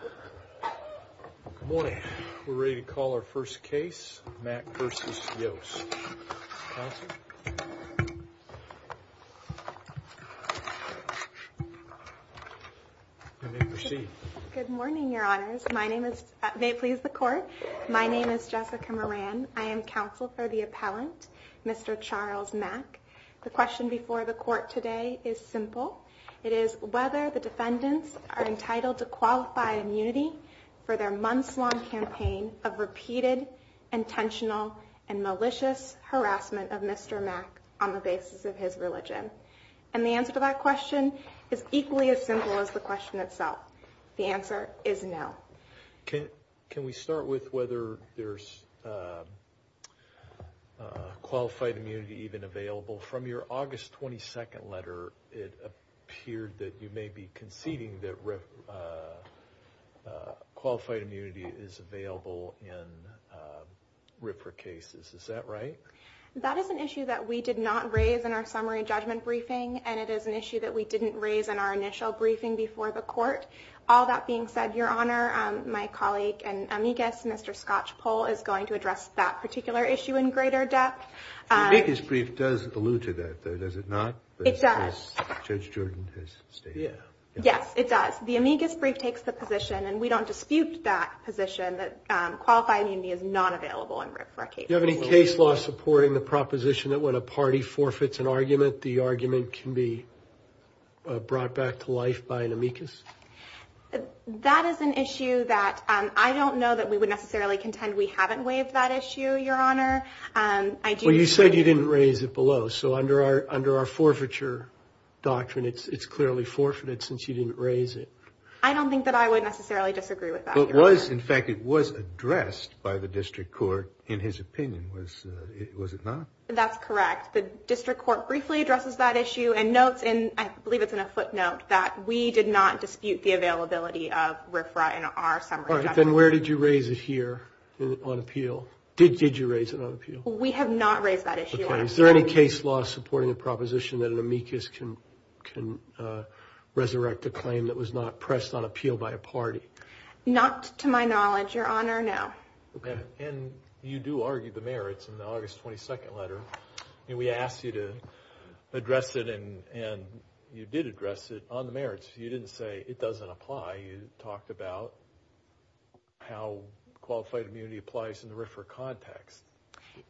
Good morning. We're ready to call our first case, Mack v. Yost. Counselor, you may proceed. Good morning, Your Honors. May it please the Court, my name is Jessica Moran. I am counsel for the appellant, Mr. Charles Mack. The question before the Court today is simple. It is whether the defendants are entitled to qualify immunity for their months-long campaign of repeated, intentional, and malicious harassment of Mr. Mack on the basis of his religion. And the answer to that question is equally as simple as the question itself. The answer is no. Can we start with whether there's qualified immunity even available? From your August 22nd letter, it appeared that you may be conceding that qualified immunity is available in RFRA cases. Is that right? That is an issue that we did not raise in our summary judgment briefing, and it is an issue that we didn't raise in our initial briefing before the Court. All that being said, Your Honor, my colleague and amicus, Mr. Scotchpole, is going to address that particular issue in greater depth. The amicus brief does allude to that, though, does it not? It does. Judge Jordan has stated that. Yes, it does. The amicus brief takes the position, and we don't dispute that position, that qualified immunity is not available in RFRA cases. Do you have any case law supporting the proposition that when a party forfeits an argument, the argument can be brought back to life by an amicus? That is an issue that I don't know that we would necessarily contend we haven't waived that issue, Your Honor. You said you didn't raise it below, so under our forfeiture doctrine, it's clearly forfeited since you didn't raise it. I don't think that I would necessarily disagree with that, Your Honor. In fact, it was addressed by the District Court in his opinion, was it not? That's correct. The District Court briefly addresses that issue and notes, and I believe it's in a footnote, that we did not dispute the availability of RFRA in our summary doctrine. Then where did you raise it here on appeal? Did you raise it on appeal? We have not raised that issue on appeal. Is there any case law supporting the proposition that an amicus can resurrect a claim that was not pressed on appeal by a party? Not to my knowledge, Your Honor, no. And you do argue the merits in the merits. You didn't say it doesn't apply. You talked about how qualified immunity applies in the RFRA context.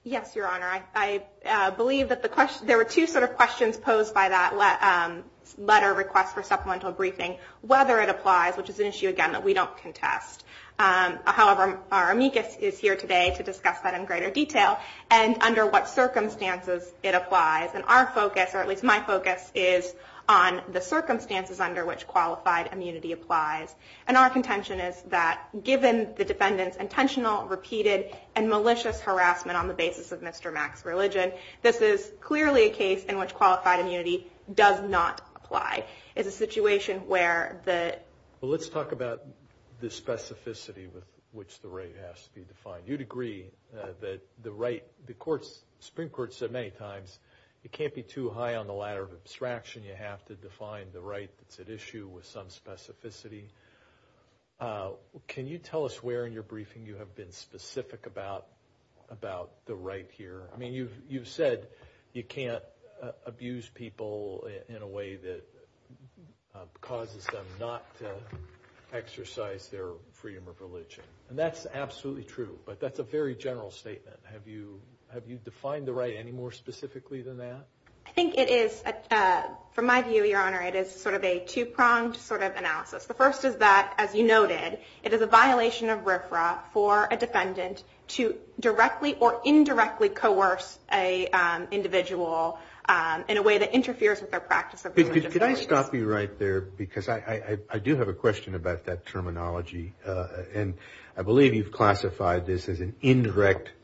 Yes, Your Honor. I believe that there were two sort of questions posed by that letter request for supplemental briefing, whether it applies, which is an issue, again, that we don't contest. However, our amicus is here today to discuss that in greater detail and under what circumstances under which qualified immunity applies. And our contention is that given the defendant's intentional, repeated, and malicious harassment on the basis of Mr. Mack's religion, this is clearly a case in which qualified immunity does not apply. It's a situation where the... Well, let's talk about the specificity with which the right has to be defined. You'd agree that the right, the Supreme Court said many times, it can't be too high on the ladder of abstraction. You have to define the right that's at issue with some specificity. Can you tell us where in your briefing you have been specific about the right here? I mean, you've said you can't abuse people in a way that causes them not to exercise their freedom of religion. And that's absolutely true. But that's a very general statement. Have you defined the right any more specifically than that? I think it is, from my view, Your Honor, it is sort of a two-pronged sort of analysis. The first is that, as you noted, it is a violation of RFRA for a defendant to directly or indirectly coerce an individual in a way that interferes with their practice of religion. Could I stop you right there? Because I do have a question about that terminology. And I believe you've classified this as an indirect pressure.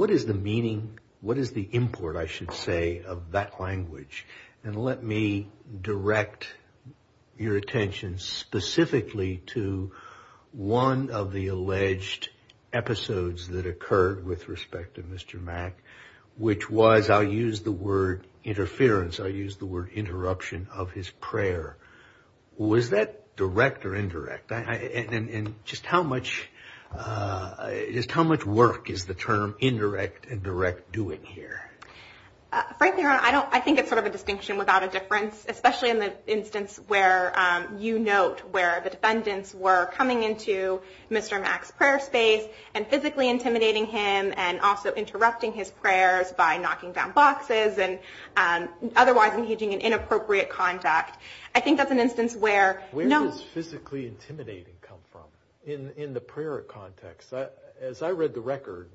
What is the meaning, what is the import, I should say, of that language? And let me direct your attention specifically to one of the alleged episodes that occurred with respect to Mr. Mack, which was, I'll use the word interference, I'll use the word interruption of his prayer. Was that direct or indirect? And just how much work is the term indirect and direct doing here? Frankly, Your Honor, I think it's sort of a distinction without a difference, especially in the instance where you note where the defendants were coming into Mr. Mack's prayer space and physically intimidating him and also interrupting his prayers by knocking down boxes and otherwise engaging in inappropriate contact. I think that's an instance where... Where does physically intimidating come from in the prayer context? As I read the record,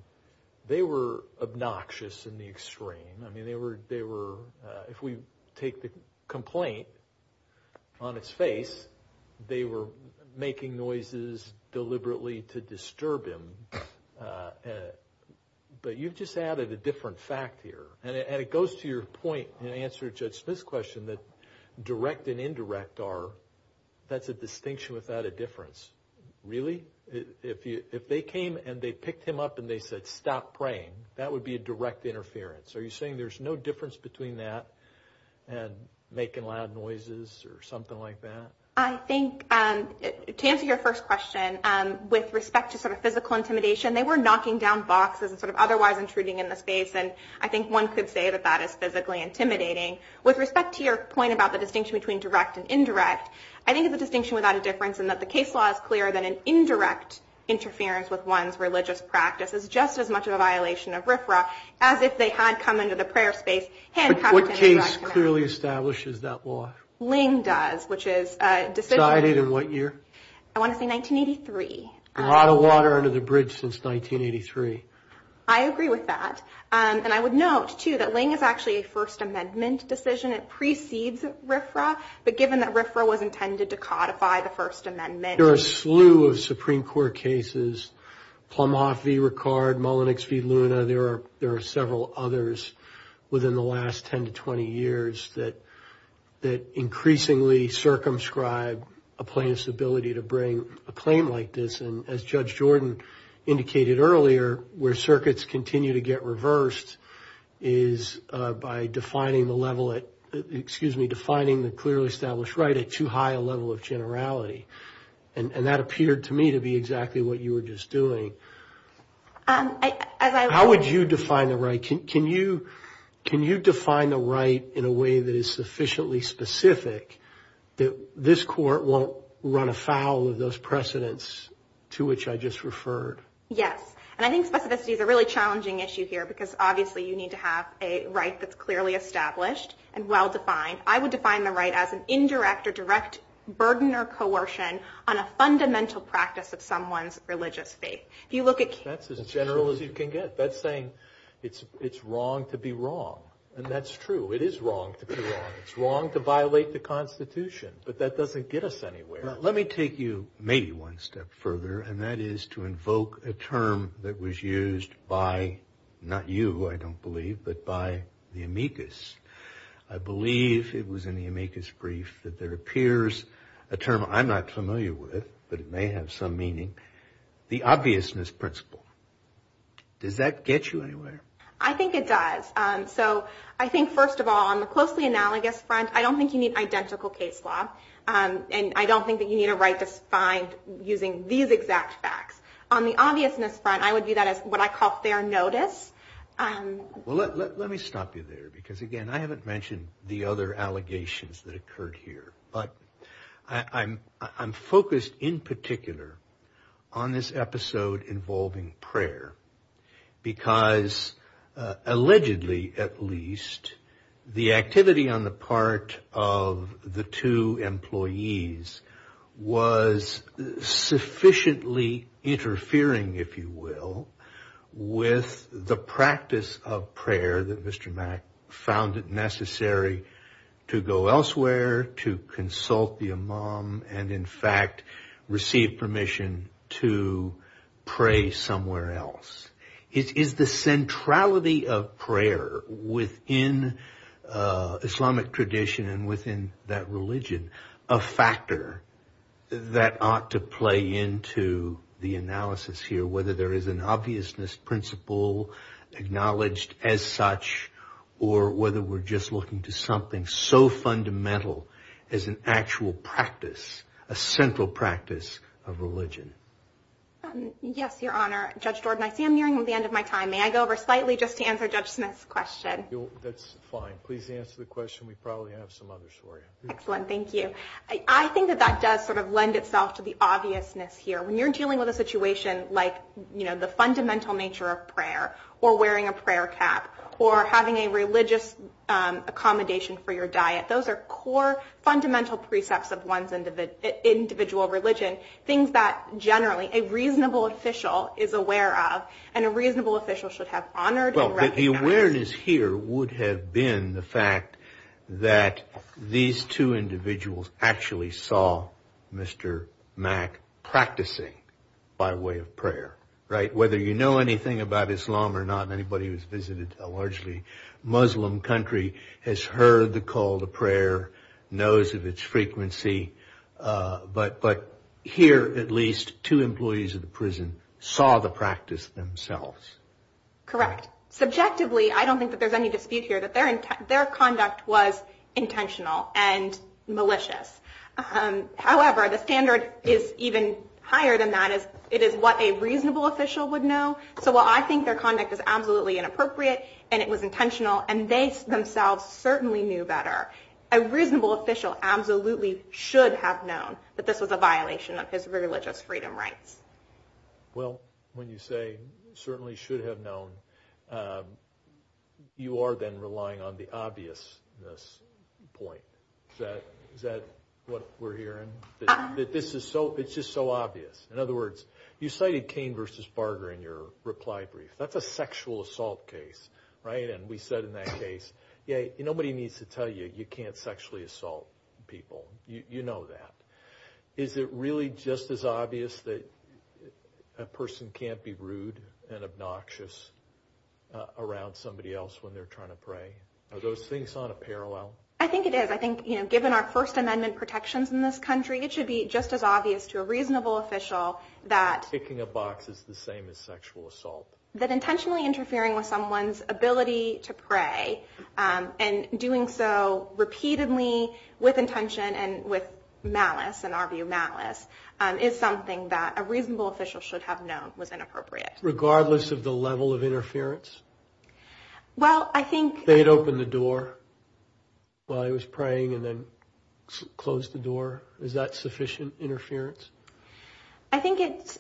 they were obnoxious in the extreme. I mean, they were, if we take the complaint on its face, they were making noises deliberately to disturb him. But you've just added a different fact here. And it goes to your point in answer to Judge Smith's question that direct and indirect are... That's a distinction without a difference. Really? If they came and they picked him up and they said, stop praying, that would be a direct interference. Are you saying there's no difference between that and making loud noises or something like that? I think to answer your first question, with respect to sort of physical intimidation, they were knocking down boxes and sort of otherwise intruding in the space. And I think one could say that that is physically intimidating. With respect to your point about the distinction between direct and indirect, I think it's a distinction without a difference in that the case law is clearer than an indirect interference with one's religious practice is just as much of a violation of RFRA as if they had come into the prayer space handcuffed. What case clearly establishes that law? Ling does, which is... Decided in what year? I want to say 1983. We're out of water under the bridge since 1983. I agree with that. And I would note too that Ling is actually a First Amendment decision. It precedes RFRA. But given that RFRA was intended to codify the First Amendment... There are a slew of Supreme Court cases, Plumhoff v. Ricard, Mullenix v. Luna. There are several others within the last 10 to 20 years that increasingly circumscribe a plaintiff's ability to bring a claim like this. And as Judge Jordan indicated earlier, where circuits continue to get reversed is by defining the level at, excuse me, defining the clearly established right at too high a level of generality. And that appeared to me to be exactly what you were just doing. As I... How would you define the right? Can you define the right in a way that is sufficiently specific that this court won't run afoul of those precedents to which I just referred? Yes. And I think specificity is a really challenging issue here because obviously you need to have a right that's clearly established and well-defined. I would define the right as an indirect or direct burden or coercion on a fundamental practice of someone's That's as general as you can get. That's saying it's wrong to be wrong. And that's true. It is wrong to be wrong. It's wrong to violate the Constitution, but that doesn't get us anywhere. Let me take you maybe one step further, and that is to invoke a term that was used by, not you, I don't believe, but by the amicus. I believe it was in the amicus brief that there principle. Does that get you anywhere? I think it does. So I think, first of all, on the closely analogous front, I don't think you need identical case law. And I don't think that you need a right to find using these exact facts. On the obviousness front, I would do that as what I call fair notice. Well, let me stop you there because, again, I haven't mentioned the other allegations that involving prayer, because allegedly, at least, the activity on the part of the two employees was sufficiently interfering, if you will, with the practice of prayer that Mr. Mack found it necessary to go elsewhere, to consult the imam, and in fact, receive permission to somewhere else. Is the centrality of prayer within Islamic tradition and within that religion a factor that ought to play into the analysis here, whether there is an obviousness principle acknowledged as such, or whether we're just looking to something so fundamental as an actual practice, a central practice of religion? Yes, Your Honor. Judge Jordan, I see I'm nearing the end of my time. May I go over slightly just to answer Judge Smith's question? That's fine. Please answer the question. We probably have some others for you. Excellent. Thank you. I think that that does sort of lend itself to the obviousness here. When you're dealing with a situation like the fundamental nature of prayer, or wearing a prayer cap, or having a religious accommodation for your diet, those are core, fundamental precepts of one's individual religion, things that generally a reasonable official is aware of, and a reasonable official should have honored and recognized. Well, the awareness here would have been the fact that these two individuals actually saw Mr. Mack practicing by way of prayer, right? Whether you know anything about Islam or not, anybody who's visited a largely Muslim country has heard the call to prayer, knows of its frequency. But here, at least, two employees of the prison saw the practice themselves. Correct. Subjectively, I don't think that there's any dispute here that their conduct was intentional and malicious. However, the standard is even higher than that. It is what a reasonable official would know. So while I think their conduct is absolutely inappropriate, and it was intentional, and they themselves certainly knew better, a reasonable official absolutely should have known that this was a violation of his religious freedom rights. Well, when you say certainly should have known, you are then relying on the obviousness point. Is that what we're hearing? That this is so, it's just so obvious. In other words, you cited Cain versus Barger in your reply brief. That's a sexual assault case, right? And we said in that case, nobody needs to tell you you can't sexually assault people. You know that. Is it really just as obvious that a person can't be rude and obnoxious around somebody else when they're trying to pray? Are those things on a parallel? I think it is. I think, you know, given our First Amendment protections in this country, it should be just as obvious to a reasonable official that picking a box is the same as sexual assault. That intentionally interfering with someone's ability to pray and doing so repeatedly with intention and with malice, in our view malice, is something that a reasonable official should have known was inappropriate. Regardless of the level of interference? Well, I think they'd open the door while he was praying and then close the door. Is that sufficient interference? I think it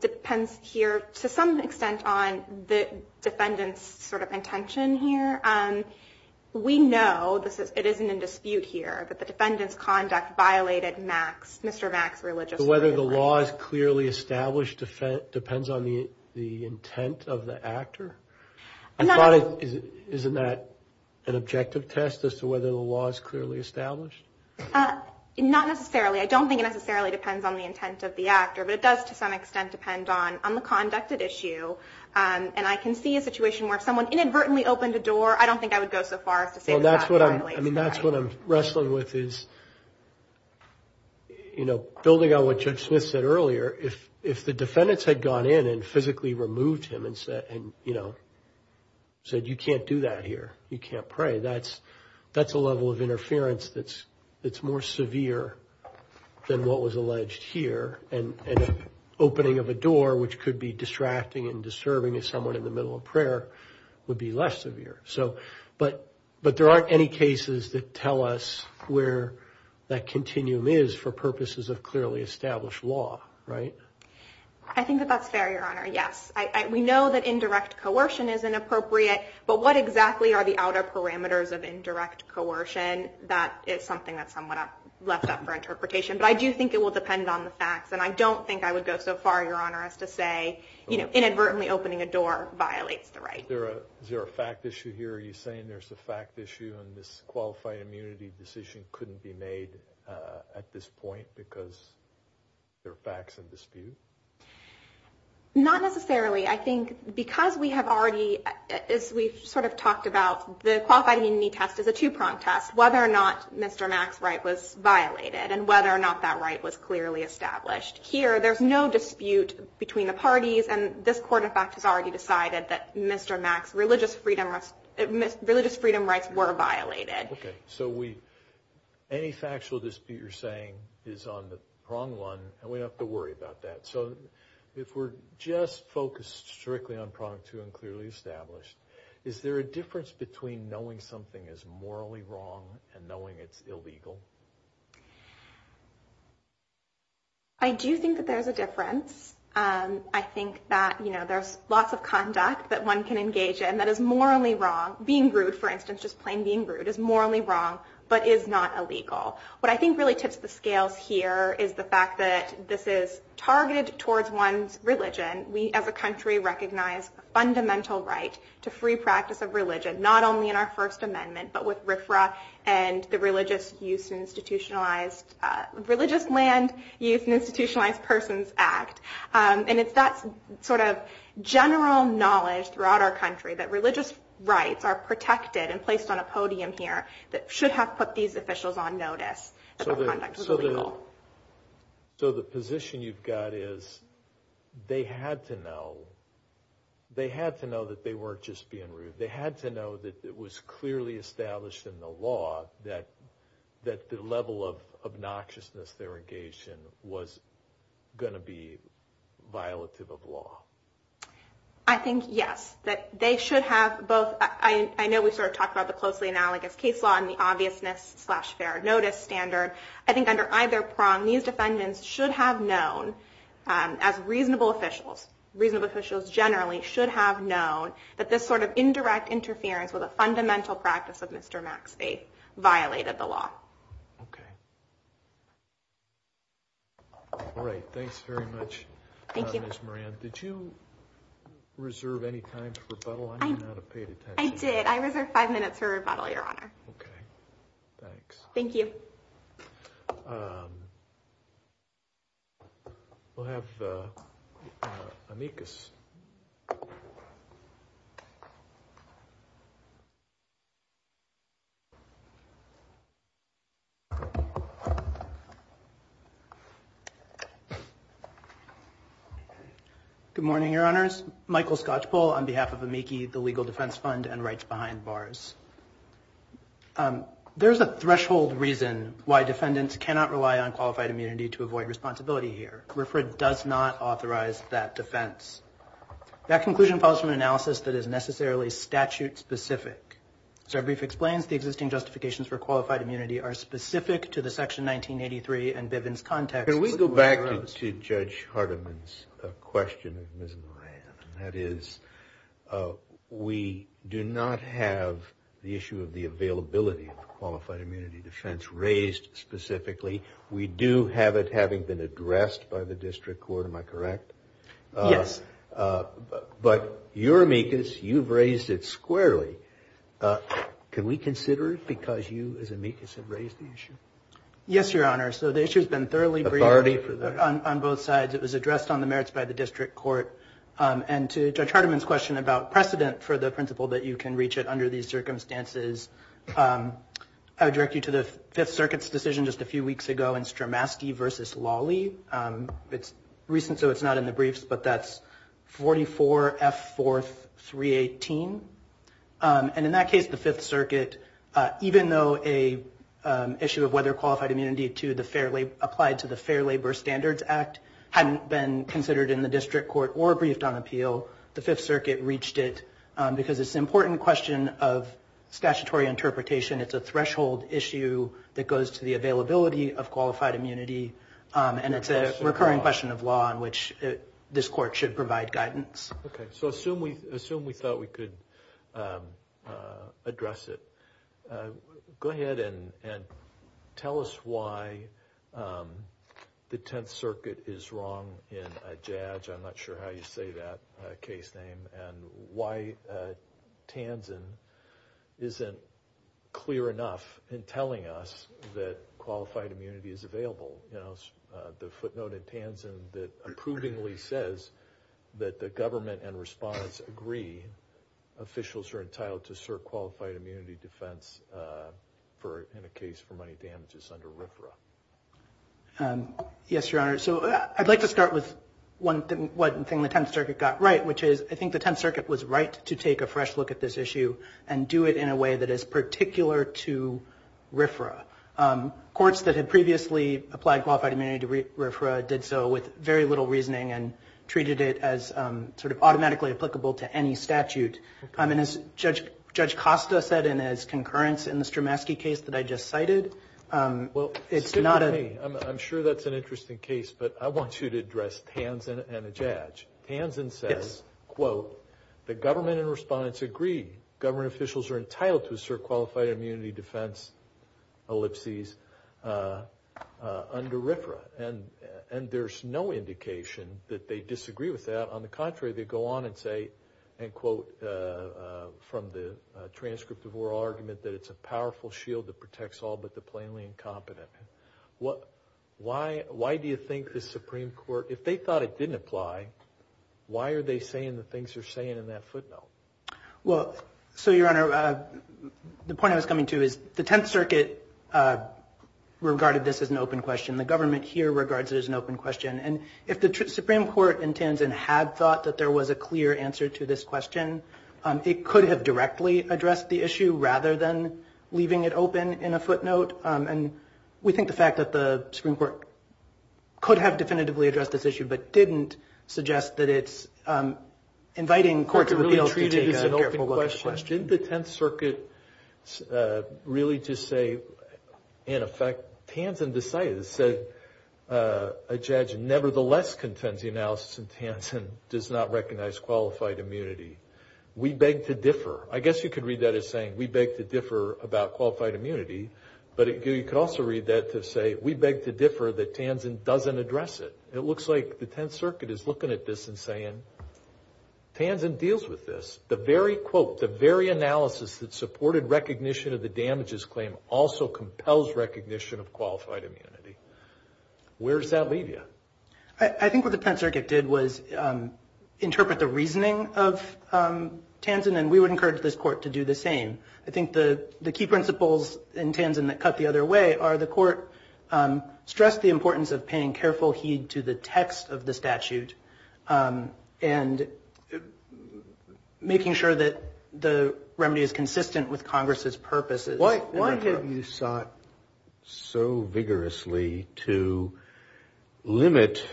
depends here to some extent on the defendant's sort of intention here. We know this is, it isn't in dispute here, but the defendant's conduct violated Max, Mr. Max religiously. Whether the law is clearly established depends on the intent of the actor? I thought, isn't that an objective test as to whether the law is clearly established? Not necessarily. I don't think it necessarily depends on the intent of the actor, but it does to some extent depend on the conducted issue. And I can see a situation where if someone inadvertently opened a door, I don't think I would go so far as to say that that's malice. I mean, that's what I'm wrestling with is, you know, building on what Judge Smith said earlier, if the defendants had gone in and physically removed him and said, you can't do that here. You can't pray. That's a level of interference that's more severe than what was alleged here. And opening of a door, which could be distracting and disturbing to someone in the middle of prayer would be less severe. But there aren't any cases that tell us where that continuum is for purposes of clearly established law, right? I think that that's fair, yes. We know that indirect coercion is inappropriate, but what exactly are the outer parameters of indirect coercion? That is something that's somewhat left up for interpretation, but I do think it will depend on the facts. And I don't think I would go so far, Your Honor, as to say inadvertently opening a door violates the right. Is there a fact issue here? Are you saying there's a fact issue and this qualified immunity decision couldn't be made at this point because there are facts in dispute? Not necessarily. I think because we have already, as we've sort of talked about, the qualified immunity test is a two-pronged test, whether or not Mr. Mack's right was violated and whether or not that right was clearly established. Here, there's no dispute between the parties, and this court, in fact, has already decided that Mr. Mack's religious freedom rights were violated. Okay. So any factual dispute you're saying is on the pronged one, and we don't have to worry about that. So if we're just focused strictly on pronged two and clearly established, is there a difference between knowing something is morally wrong and knowing it's illegal? I do think that there's a difference. I think that, you know, there's lots of conduct that one can engage in that is morally wrong. Being rude, for instance, just plain being rude, is morally wrong, but is not illegal. What I think really tips the scales here is the fact that this is targeted towards one's religion. We, as a country, recognize a fundamental right to free practice of religion, not only in our First Amendment, but with RFRA and the Religious Land Use and Institutionalized Persons Act. And it's that sort of general knowledge throughout our country that religious rights are protected and placed on a podium here that should have put these officials on notice that their conduct was illegal. So the position you've got is they had to know that they weren't just being rude. They had to know that it was clearly established in the law that the level of obnoxiousness they were engaged was going to be violative of law. I think, yes, that they should have both. I know we sort of talked about the closely analogous case law and the obviousness slash fair notice standard. I think under either prong, these defendants should have known as reasonable officials, reasonable officials generally, should have known that this sort of indirect interference with a fundamental practice of Mr. Maxfield violated the law. All right. Thanks very much, Ms. Moran. Did you reserve any time for rebuttal? I may not have paid attention. I did. I reserved five minutes for rebuttal, Your Honor. Okay. Thanks. Thank you. We'll have amicus. Good morning, Your Honors. Michael Skocpol on behalf of AMICI, the Legal Defense Fund and defendants cannot rely on qualified immunity to avoid responsibility here. RFRA does not authorize that defense. That conclusion follows from an analysis that is necessarily statute specific. As our brief explains, the existing justifications for qualified immunity are specific to the Section 1983 and Bivens context. Can we go back to Judge Hardiman's question of Ms. Moran? That is, we do not have the issue of the availability of qualified immunity defense raised specifically. We do have it having been addressed by the district court. Am I correct? Yes. But your amicus, you've raised it squarely. Can we consider it because you as amicus have raised the issue? Yes, Your Honor. So the issue has been thoroughly briefed on both sides. It was addressed on the merits by the district court and to Judge Hardiman's question about precedent for the principle that you can reach it under these circumstances. I would direct you to the 5th Circuit's decision just a few weeks ago in Stramaski v. Lawley. It's recent, so it's not in the briefs, but that's 44 F. 4th 318. And in that case, the 5th Circuit, even though an issue of whether qualified immunity applied to the Fair Labor Standards Act hadn't been considered in the district court or briefed on appeal, the 5th Circuit reached it because it's goes to the availability of qualified immunity. And it's a recurring question of law in which this court should provide guidance. Okay. So assume we thought we could address it. Go ahead and tell us why the 10th Circuit is wrong in a judge. I'm not sure how you say that case name and why Tanzen isn't clear enough in telling us that qualified immunity is available. You know, the footnote in Tanzen that approvingly says that the government and respondents agree officials are entitled to cert qualified immunity defense in a case for money damages under RFRA. Yes, Your Honor. So I'd like to start with one thing the 10th Circuit got right, which is I think the 10th Circuit was right to take a fresh look at this issue and do it in a way that is particular to RFRA. Courts that had previously applied qualified immunity to RFRA did so with very little reasoning and treated it as sort of automatically applicable to any statute. And as Judge Costa said in his concurrence in the Stramaski case that I just cited, well, it's not a... Excuse me. I'm sure that's an interesting case, but I want you to address Tanzen and a judge. Tanzen says, quote, the government and respondents agree government officials are entitled to assert qualified immunity defense ellipses under RFRA. And there's no indication that they disagree with that. On the contrary, they go on and say, and quote, from the transcript of oral argument that it's a powerful shield that protects all but the plainly incompetent. Why do you think the Supreme Court, if they thought it didn't apply, why are they saying the things they're saying in that footnote? Well, so Your Honor, the point I was coming to is the 10th Circuit regarded this as an open question. The government here regards it as an open question. And if the Supreme Court in Tanzen had thought that there was a clear answer to this question, it could have directly addressed the issue rather than leaving it open in a footnote. And we think the fact that the Supreme Court could have definitively addressed this issue, but didn't suggest that it's inviting court to really treat it as an open question. Didn't the 10th Circuit really just say, in effect, Tanzen decided, said a judge nevertheless contends the analysis in Tanzen does not recognize qualified immunity. We beg to differ. I guess you could read that as saying, we beg to differ about qualified immunity. But you could also read that to say, we beg to differ that Tanzen doesn't address it. It looks like the 10th Circuit is looking at this and saying, Tanzen deals with this. The very quote, the very analysis that supported recognition of the compelled recognition of qualified immunity. Where does that leave you? I think what the 10th Circuit did was interpret the reasoning of Tanzen and we would encourage this court to do the same. I think the key principles in Tanzen that cut the other way are the court stressed the importance of paying careful heed to the text of the statute and making sure that the remedy is consistent with Congress's purposes. Why have you sought so vigorously to limit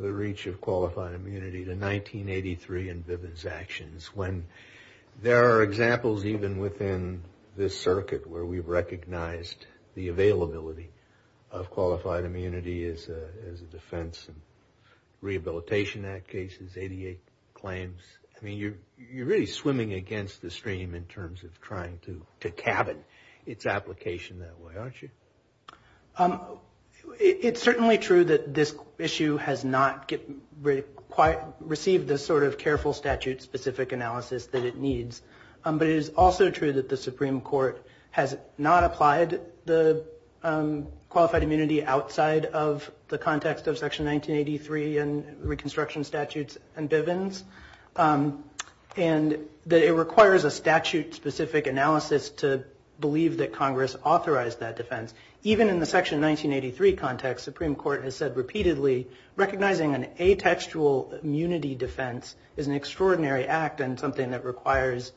the reach of qualified immunity to 1983 and Viven's actions when there are examples even within this circuit where we've recognized the availability of qualified immunity as a defense and Rehabilitation Act cases, 88 claims. I mean, you're really swimming against the stream in terms of trying to cabin its application that way, aren't you? It's certainly true that this issue has not received the sort of careful statute specific analysis that it needs. But it is also true that the Supreme Court has not applied the qualified immunity outside of the context of Section 1983 and reconstruction statutes and that it requires a statute specific analysis to believe that Congress authorized that defense. Even in the Section 1983 context, the Supreme Court has said repeatedly, recognizing an atextual immunity defense is an extraordinary act and something that requires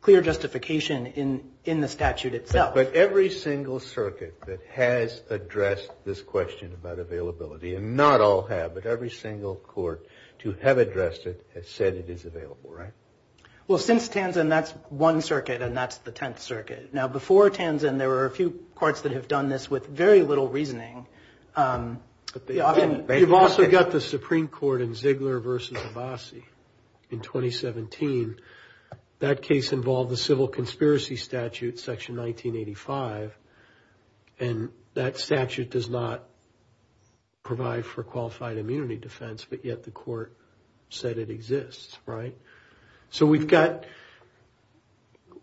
clear justification in the statute itself. But every single circuit that has addressed this question about availability, and not all have, but every single court to have addressed it has said it is available, right? Well, since Tanzan, that's one circuit and that's the 10th circuit. Now, before Tanzan, there were a few courts that have done this with very little reasoning. You've also got the Supreme Court in Ziegler versus Abbasi in 2017. That case involved the civil conspiracy statute, Section 1985. And that statute does not provide for qualified immunity defense, but yet the court said it exists, right? So we've got,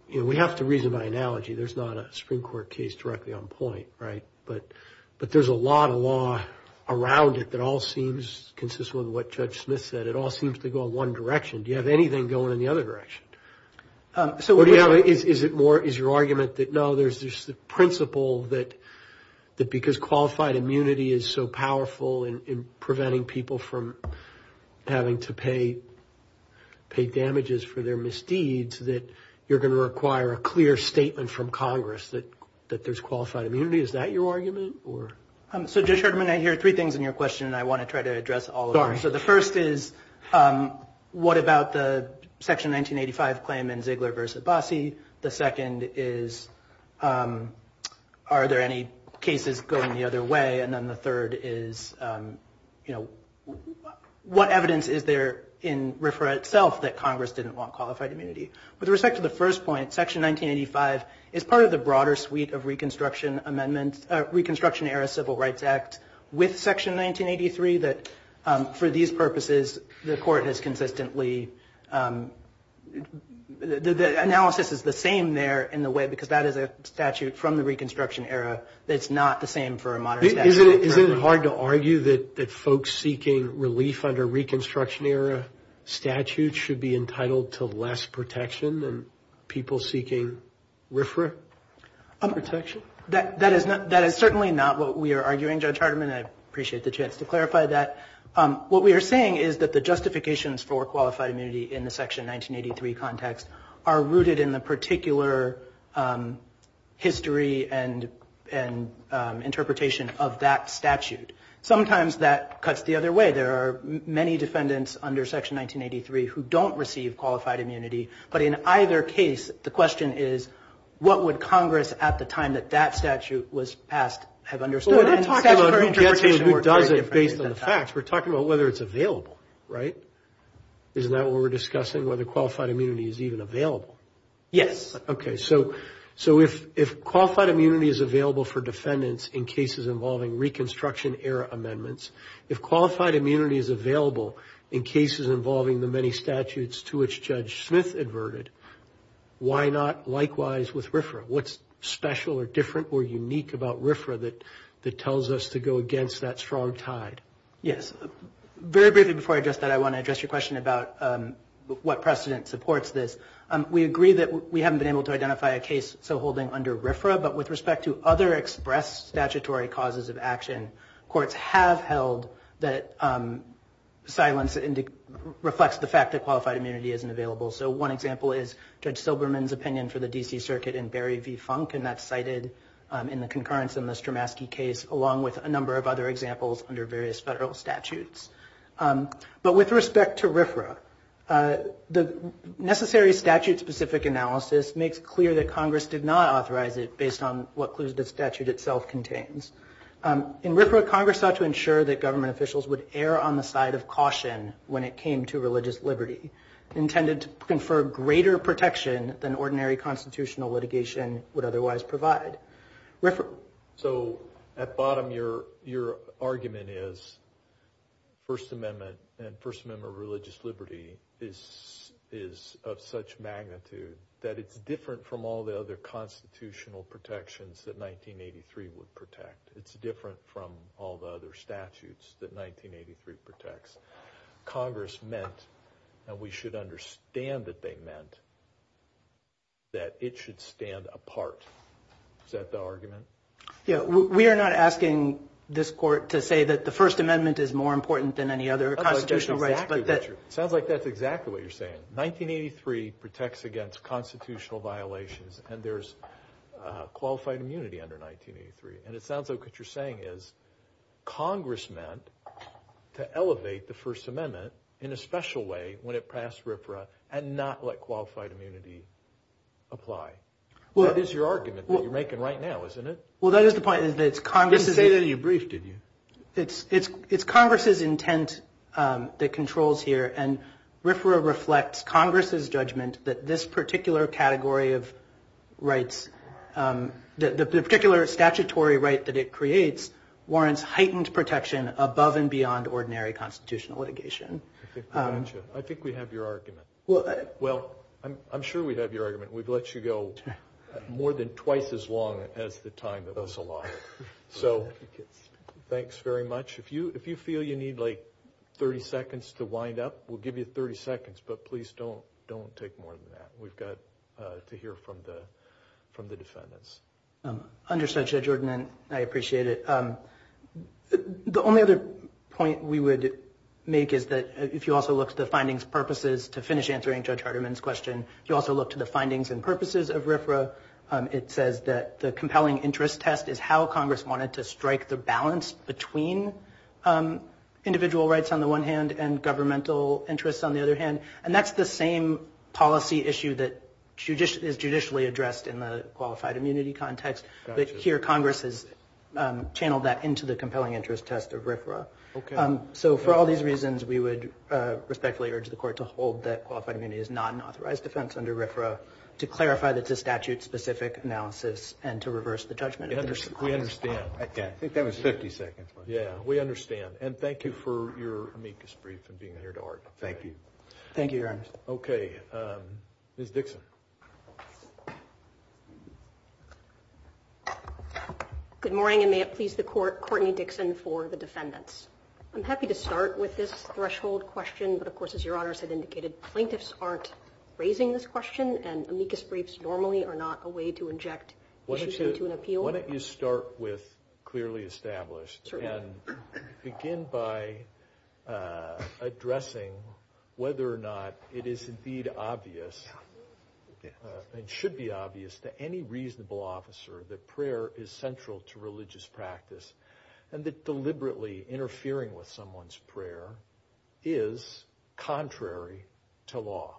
you know, we have to reason by analogy. There's not a Supreme Court case directly on point, right? But there's a lot of law around it that all seems consistent with what Judge Smith said. It all seems to go in one direction. Do you have anything going in the other direction? Is it more, is your argument that, no, there's this principle that because qualified immunity is so powerful in preventing people from having to pay damages for their misdeeds, that you're going to require a clear statement from Congress that there's qualified immunity? Is that your argument or? So Judge Herdman, I hear three things in your question and I want to try to address all of them. So the first is, what about the Section 1985 claim in Ziegler versus Abbasi? The second is, are there any cases going the other way? And then the third is, you know, what evidence is there in RFRA itself that Congress didn't want qualified immunity? With respect to the first point, Section 1985 is part of the broader suite of Reconstruction Amendments, Reconstruction Era Civil Rights Act with Section 1983, that for these purposes, the Court has consistently, the analysis is the same there in the way because that is a statute from the Reconstruction Era that's not the same for a modern statute. Is it hard to argue that folks seeking relief under Reconstruction Era statutes should be entitled to less protection than people seeking RFRA protection? That is certainly not what we are arguing, Judge Herdman, and I appreciate the chance to clarify that. What we are saying is that the justifications for qualified immunity in the Section 1983 context are rooted in the particular history and interpretation of that statute. Sometimes that cuts the other way. There are many defendants under Section 1983 who don't receive qualified immunity, but in either case, the question is, what would Congress at the time that that statute was passed have understood? Well, we're not talking about who gets it and who doesn't based on the facts. We're talking about whether it's available, right? Isn't that what we're discussing? Whether qualified immunity is even available? Yes. Okay, so if qualified immunity is available for defendants in cases involving Reconstruction Era amendments, if qualified immunity is available in cases involving the many statutes to which Judge Smith adverted, why not likewise with RFRA? What's special or different or unique about RFRA that tells us to go against that strong tide? Yes. Very briefly before I address that, I want to address your question about what precedent supports this. We agree that we haven't been able to identify a case so holding under RFRA, but with respect to other expressed statutory causes of action, courts have held that silence reflects the fact that qualified immunity isn't available. So one example is Judge Silberman's opinion for the D.C. Circuit in Barry v. Funk, and that's cited in the concurrence in the Stramaski case along with a number of other examples under various federal statutes. But with respect to RFRA, the necessary statute-specific analysis makes clear that Congress did not authorize it based on what clues the statute itself contains. In RFRA, Congress sought to ensure that government officials would err on the side of caution when it came to religious liberty, intended to confer greater protection than ordinary constitutional litigation would otherwise provide. So at bottom your argument is First Amendment and First Amendment religious liberty is of such magnitude that it's different from all the other constitutional protections that 1983 would protect. It's different from all the other statutes that 1983 protects. Congress meant, and we should understand that they meant, that it should stand apart. Is that the argument? Yeah, we are not asking this court to say that the First Amendment is more important than any other constitutional rights. Sounds like that's exactly what you're saying. 1983 protects against constitutional violations and there's qualified immunity under 1983. And it sounds like what you're saying is Congress meant to elevate the First Amendment in a special way when it passed RFRA and not let qualified immunity apply. That is your argument that you're making right now, isn't it? Well, that is the point. You didn't say that in your brief, did you? It's Congress's judgment that this particular category of rights, the particular statutory right that it creates, warrants heightened protection above and beyond ordinary constitutional litigation. I think we have your argument. Well, I'm sure we have your argument. We've let you go more than twice as long as the time that was allotted. So thanks very much. If you feel you like 30 seconds to wind up, we'll give you 30 seconds, but please don't take more than that. We've got to hear from the defendants. Understood, Judge Ordnant. I appreciate it. The only other point we would make is that if you also look to the findings purposes to finish answering Judge Hardeman's question, you also look to the findings and purposes of RFRA. It says that the compelling interest test is how Congress wanted to strike the balance between individual rights on the one hand and governmental interests on the other hand, and that's the same policy issue that is judicially addressed in the qualified immunity context, but here Congress has channeled that into the compelling interest test of RFRA. Okay. So for all these reasons, we would respectfully urge the court to hold that qualified immunity is not an authorized defense under RFRA to clarify that it's a statute-specific analysis and to reverse the judgment. We understand. I think that was 50 seconds. Yeah, we understand, and thank you for your amicus brief and being here to argue. Thank you. Thank you, Your Honor. Okay. Ms. Dixon. Good morning, and may it please the court, Courtney Dixon for the defendants. I'm happy to start with this threshold question, but of course, as your honors had indicated, plaintiffs aren't raising this question and amicus briefs normally are not a way to inject issues into an appeal. Why don't you start with clearly established and begin by addressing whether or not it is indeed obvious and should be obvious to any reasonable officer that prayer is central to religious practice and that deliberately interfering with someone's prayer is contrary to law.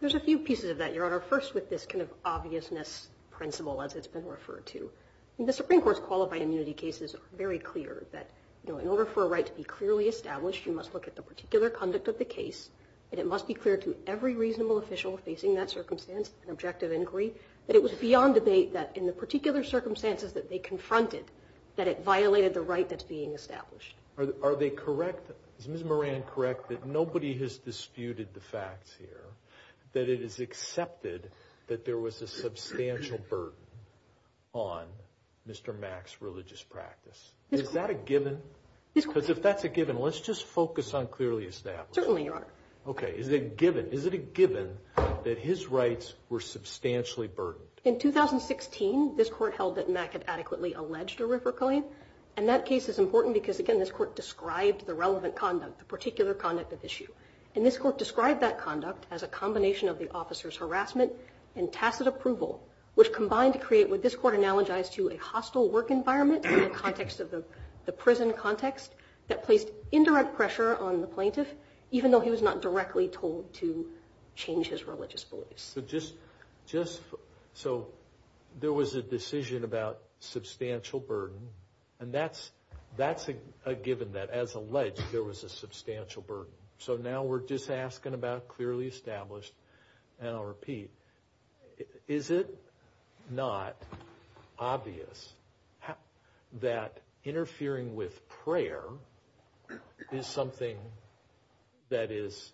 There's a few pieces of that, Your Honor. First, with this kind of obviousness as it's been referred to, the Supreme Court's qualified immunity case is very clear that in order for a right to be clearly established, you must look at the particular conduct of the case, and it must be clear to every reasonable official facing that circumstance and objective inquiry that it was beyond debate that in the particular circumstances that they confronted, that it violated the right that's being established. Are they correct? Is Ms. Moran correct that nobody has disputed the facts here, that it is accepted that there was a substantial burden on Mr. Mack's religious practice? Is that a given? Because if that's a given, let's just focus on clearly established. Certainly, Your Honor. Okay. Is it a given? Is it a given that his rights were substantially burdened? In 2016, this court held that Mack had adequately alleged a river killing, and that case is important because, again, this court described the relevant conduct, the particular conduct of issue, and this court described that conduct as a combination of the officer's harassment and tacit approval, which combined to create what this court analogized to a hostile work environment in the context of the prison context that placed indirect pressure on the plaintiff, even though he was not directly told to change his religious beliefs. So just so there was a decision about substantial burden, and that's a given that, as alleged, there was a substantial burden. So now we're just asking about clearly established, and I'll repeat. Is it not obvious that interfering with prayer is something that is,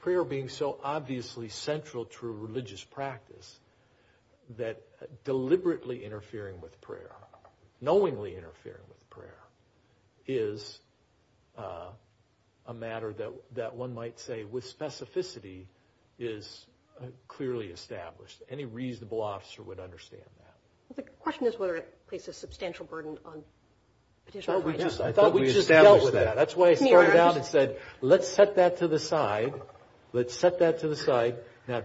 prayer being so obviously central to religious practice, that deliberately interfering with prayer is a matter that one might say with specificity is clearly established? Any reasonable officer would understand that. The question is whether it places substantial burden on petitioner's rights. I thought we just dealt with that. That's why I started out and said, let's set that to the side. Let's set that to the side. Now,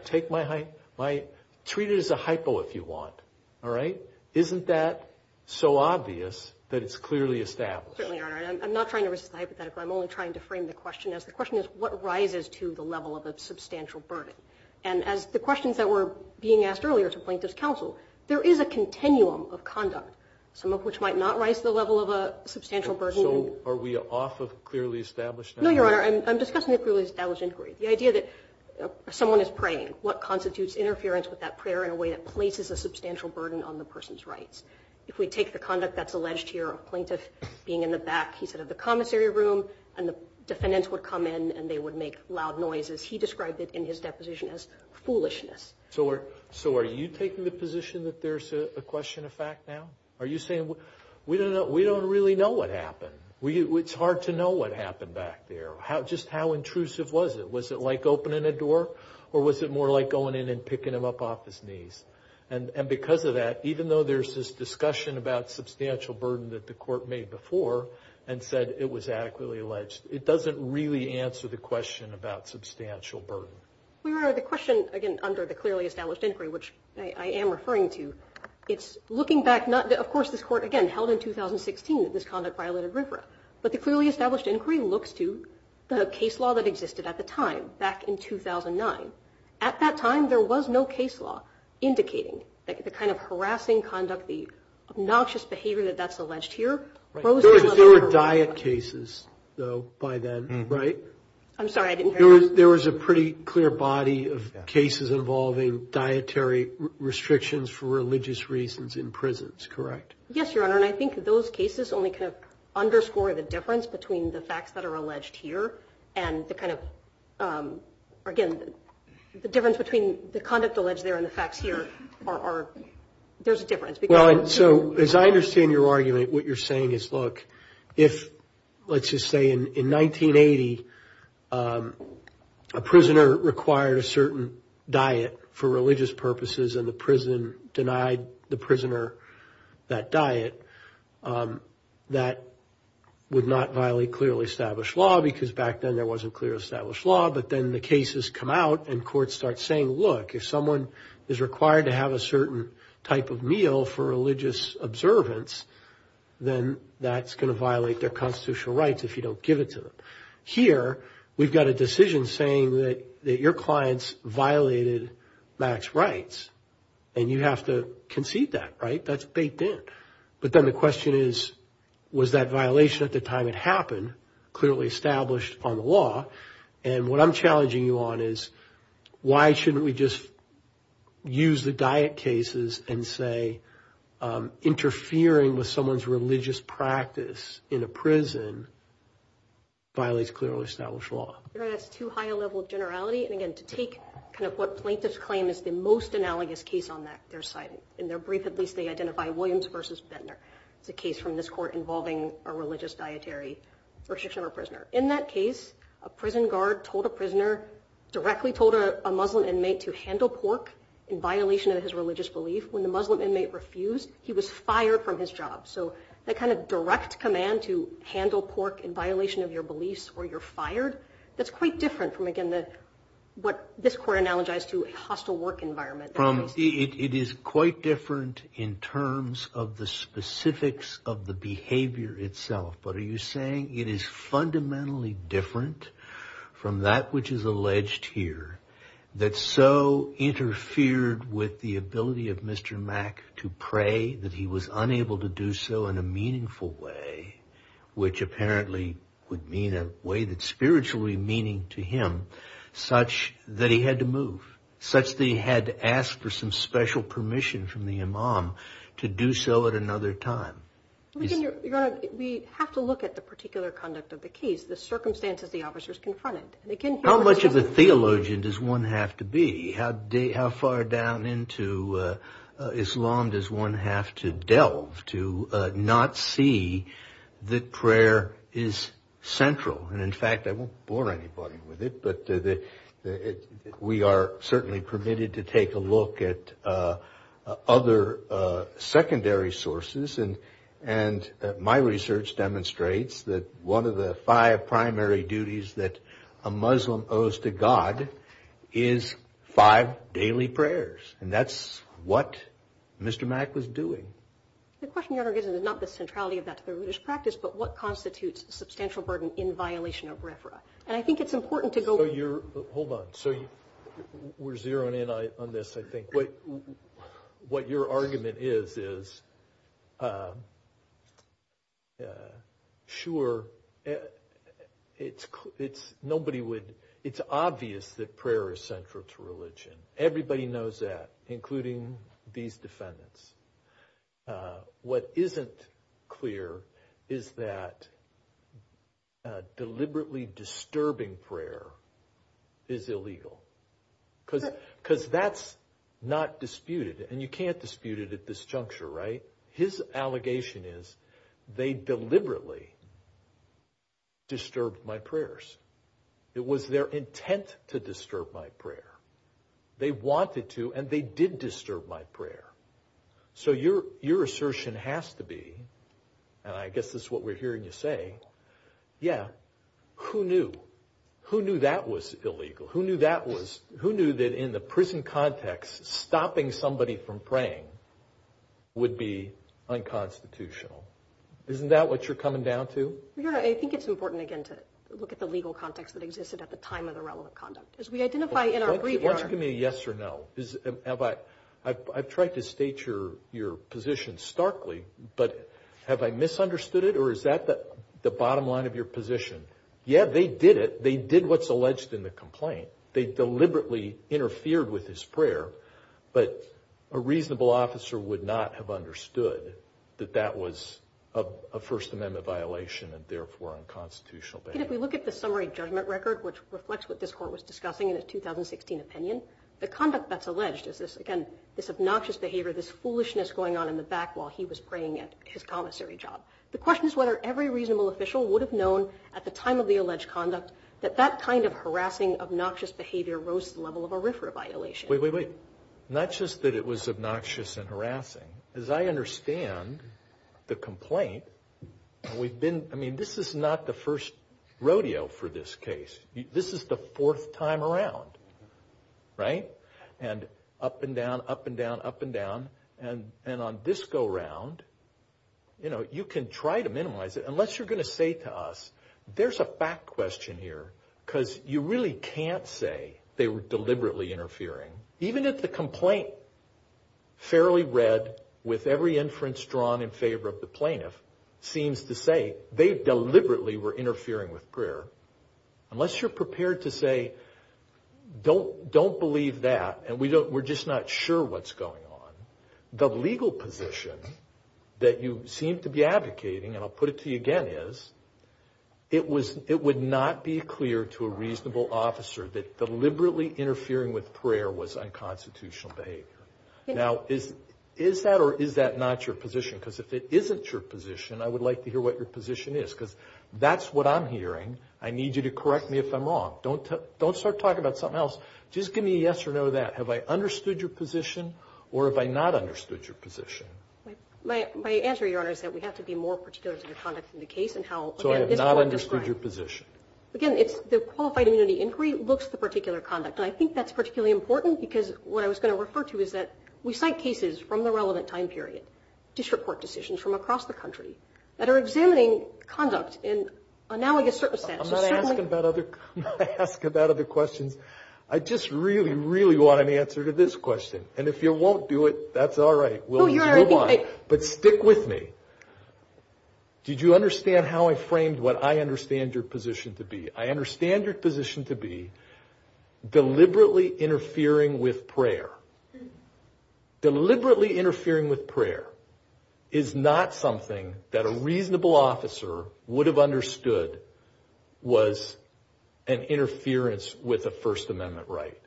treat it as a hypo, if you want, all right? Isn't that so obvious that it's clearly established? I'm not trying to resist the hypothetical. I'm only trying to frame the question as, the question is, what rises to the level of a substantial burden? And as the questions that were being asked earlier to plaintiff's counsel, there is a continuum of conduct, some of which might not rise to the level of a substantial burden. Are we off of clearly established? No, Your Honor. I'm discussing a clearly established inquiry. The idea that someone is praying, what constitutes interference with that prayer in a way that places a substantial burden on the person's rights? If we take the conduct that's alleged here, plaintiff being in the back, he said, of the commissary room, and the defendants would come in and they would make loud noises. He described it in his deposition as foolishness. So are you taking the position that there's a question of fact now? Are you saying, we don't really know what happened. It's hard to know what happened back there. Just how intrusive was it? Was it like opening a door? Or was it more like going in and picking him up off his knees? And because of that, even though there's this discussion about court made before, and said it was adequately alleged, it doesn't really answer the question about substantial burden. Your Honor, the question, again, under the clearly established inquiry, which I am referring to, it's looking back, of course, this court, again, held in 2016 that this conduct violated RFRA. But the clearly established inquiry looks to the case law that existed at the time, back in 2009. At that time, there was no case law indicating the kind of harassing conduct, obnoxious behavior that's alleged here. There were diet cases, though, by then, right? I'm sorry, I didn't hear that. There was a pretty clear body of cases involving dietary restrictions for religious reasons in prisons, correct? Yes, Your Honor. And I think those cases only kind of underscore the difference between the facts that are alleged here and the kind of, again, the difference between the conduct alleged there and the facts here are, there's a difference. So, as I understand your argument, what you're saying is, look, if, let's just say, in 1980, a prisoner required a certain diet for religious purposes and the prison denied the prisoner that diet, that would not violate clearly established law because back then there wasn't clearly established law. But then the cases come out and courts start saying, look, if someone is required to have a diet for religious observance, then that's going to violate their constitutional rights if you don't give it to them. Here, we've got a decision saying that your clients violated max rights and you have to concede that, right? That's baked in. But then the question is, was that violation at the time it happened clearly established on the law? And what I'm challenging you on is, why shouldn't we just use the diet cases and say, interfering with someone's religious practice in a prison violates clearly established law? You're right. That's too high a level of generality. And again, to take kind of what plaintiffs claim is the most analogous case on their side, in their brief, at least they identify Williams versus Bentner. It's a case from this court involving a religious dietary restriction of a prisoner. In that case, a prison guard told a prisoner, directly told a Muslim inmate to handle pork in violation of his religious belief. When the Muslim inmate refused, he was fired from his job. So that kind of direct command to handle pork in violation of your beliefs or you're fired, that's quite different from, again, what this court analogized to a hostile work environment. It is quite different in terms of the specifics of the behavior itself. But are you saying it is fundamentally different from that which is alleged here, that so interfered with the ability of Mr. Mack to pray that he was unable to do so in a meaningful way, which apparently would mean a way that's spiritually meaning to him, such that he had to move, such that he had to ask for some special permission from the imam to do so at another time? We have to look at the particular conduct of the case, the circumstances the officers confronted. How much of a theologian does one have to be? How far down into Islam does one have to delve to not see that prayer is central? And in fact, I won't bore anybody with it, but we are certainly permitted to take a look at other secondary sources. And my research demonstrates that one of the five primary duties that a Muslim owes to God is five daily prayers. And that's what Mr. Mack was doing. The question, Your Honor, is not the centrality of that to the religious practice, but what constitutes a substantial burden in violation of RFRA? And I think it's important to go... So you're... Hold on. So we're zeroing in on this, I think. But what your argument is, is sure, it's nobody would... It's obvious that prayer is central to religion. Everybody knows that, including these defendants. What isn't clear is that deliberately disturbing prayer is illegal. Because that's not disputed. And you can't dispute it at this juncture, right? His allegation is they deliberately disturbed my prayers. It was their intent to disturb my prayer. They wanted to, and they did disturb my prayer. So your assertion has to be, and I guess this is what we're hearing you say, yeah, who knew? Who knew that was illegal? Who knew that in the prison context, stopping somebody from praying would be unconstitutional? Isn't that what you're coming down to? Your Honor, I think it's important, again, to look at the legal context that existed at the time of the relevant conduct. As we identify in our brief... Why don't you give me a yes or no? I've tried to state your position starkly, but have I misunderstood it? Or is that the bottom line of your position? Yeah, they did it. They deliberately interfered with his prayer, but a reasonable officer would not have understood that that was a First Amendment violation and therefore unconstitutional. If we look at the summary judgment record, which reflects what this court was discussing in its 2016 opinion, the conduct that's alleged is this, again, this obnoxious behavior, this foolishness going on in the back while he was praying at his commissary job. The question is whether every reasonable official would have known at the time of the alleged conduct that that kind of harassing, obnoxious behavior rose to the level of a RFRA violation. Wait, wait, wait. Not just that it was obnoxious and harassing. As I understand the complaint, we've been... I mean, this is not the first rodeo for this case. This is the fourth time around, right? And up and down, up and down, up and down. And on this go-round, you know, you can try to minimize it because you really can't say they were deliberately interfering. Even if the complaint, fairly read, with every inference drawn in favor of the plaintiff, seems to say they deliberately were interfering with prayer, unless you're prepared to say, don't believe that and we're just not sure what's going on, the legal position that you seem to be advocating, and I'll put it to you again, is it would not be clear to a reasonable officer that deliberately interfering with prayer was unconstitutional behavior. Now, is that or is that not your position? Because if it isn't your position, I would like to hear what your position is. Because that's what I'm hearing. I need you to correct me if I'm wrong. Don't start talking about something else. Just give me a yes or no to that. Have I understood your position or have I not understood your position? My answer, Your Honor, is that we have to be more particular to the conduct in the case and how, again, this court describes. So I have not understood your position. Again, it's the qualified immunity inquiry looks at the particular conduct. And I think that's particularly important because what I was going to refer to is that we cite cases from the relevant time period, district court decisions from across the country that are examining conduct in analogous circumstances. I'm not asking about other questions. I just really, really want an answer to this question. And if you won't do it, that's all right. But stick with me. Did you understand how I framed what I understand your position to be? I understand your position to be deliberately interfering with prayer. Deliberately interfering with prayer is not something that a reasonable officer would have understood was an interference with a First Amendment right.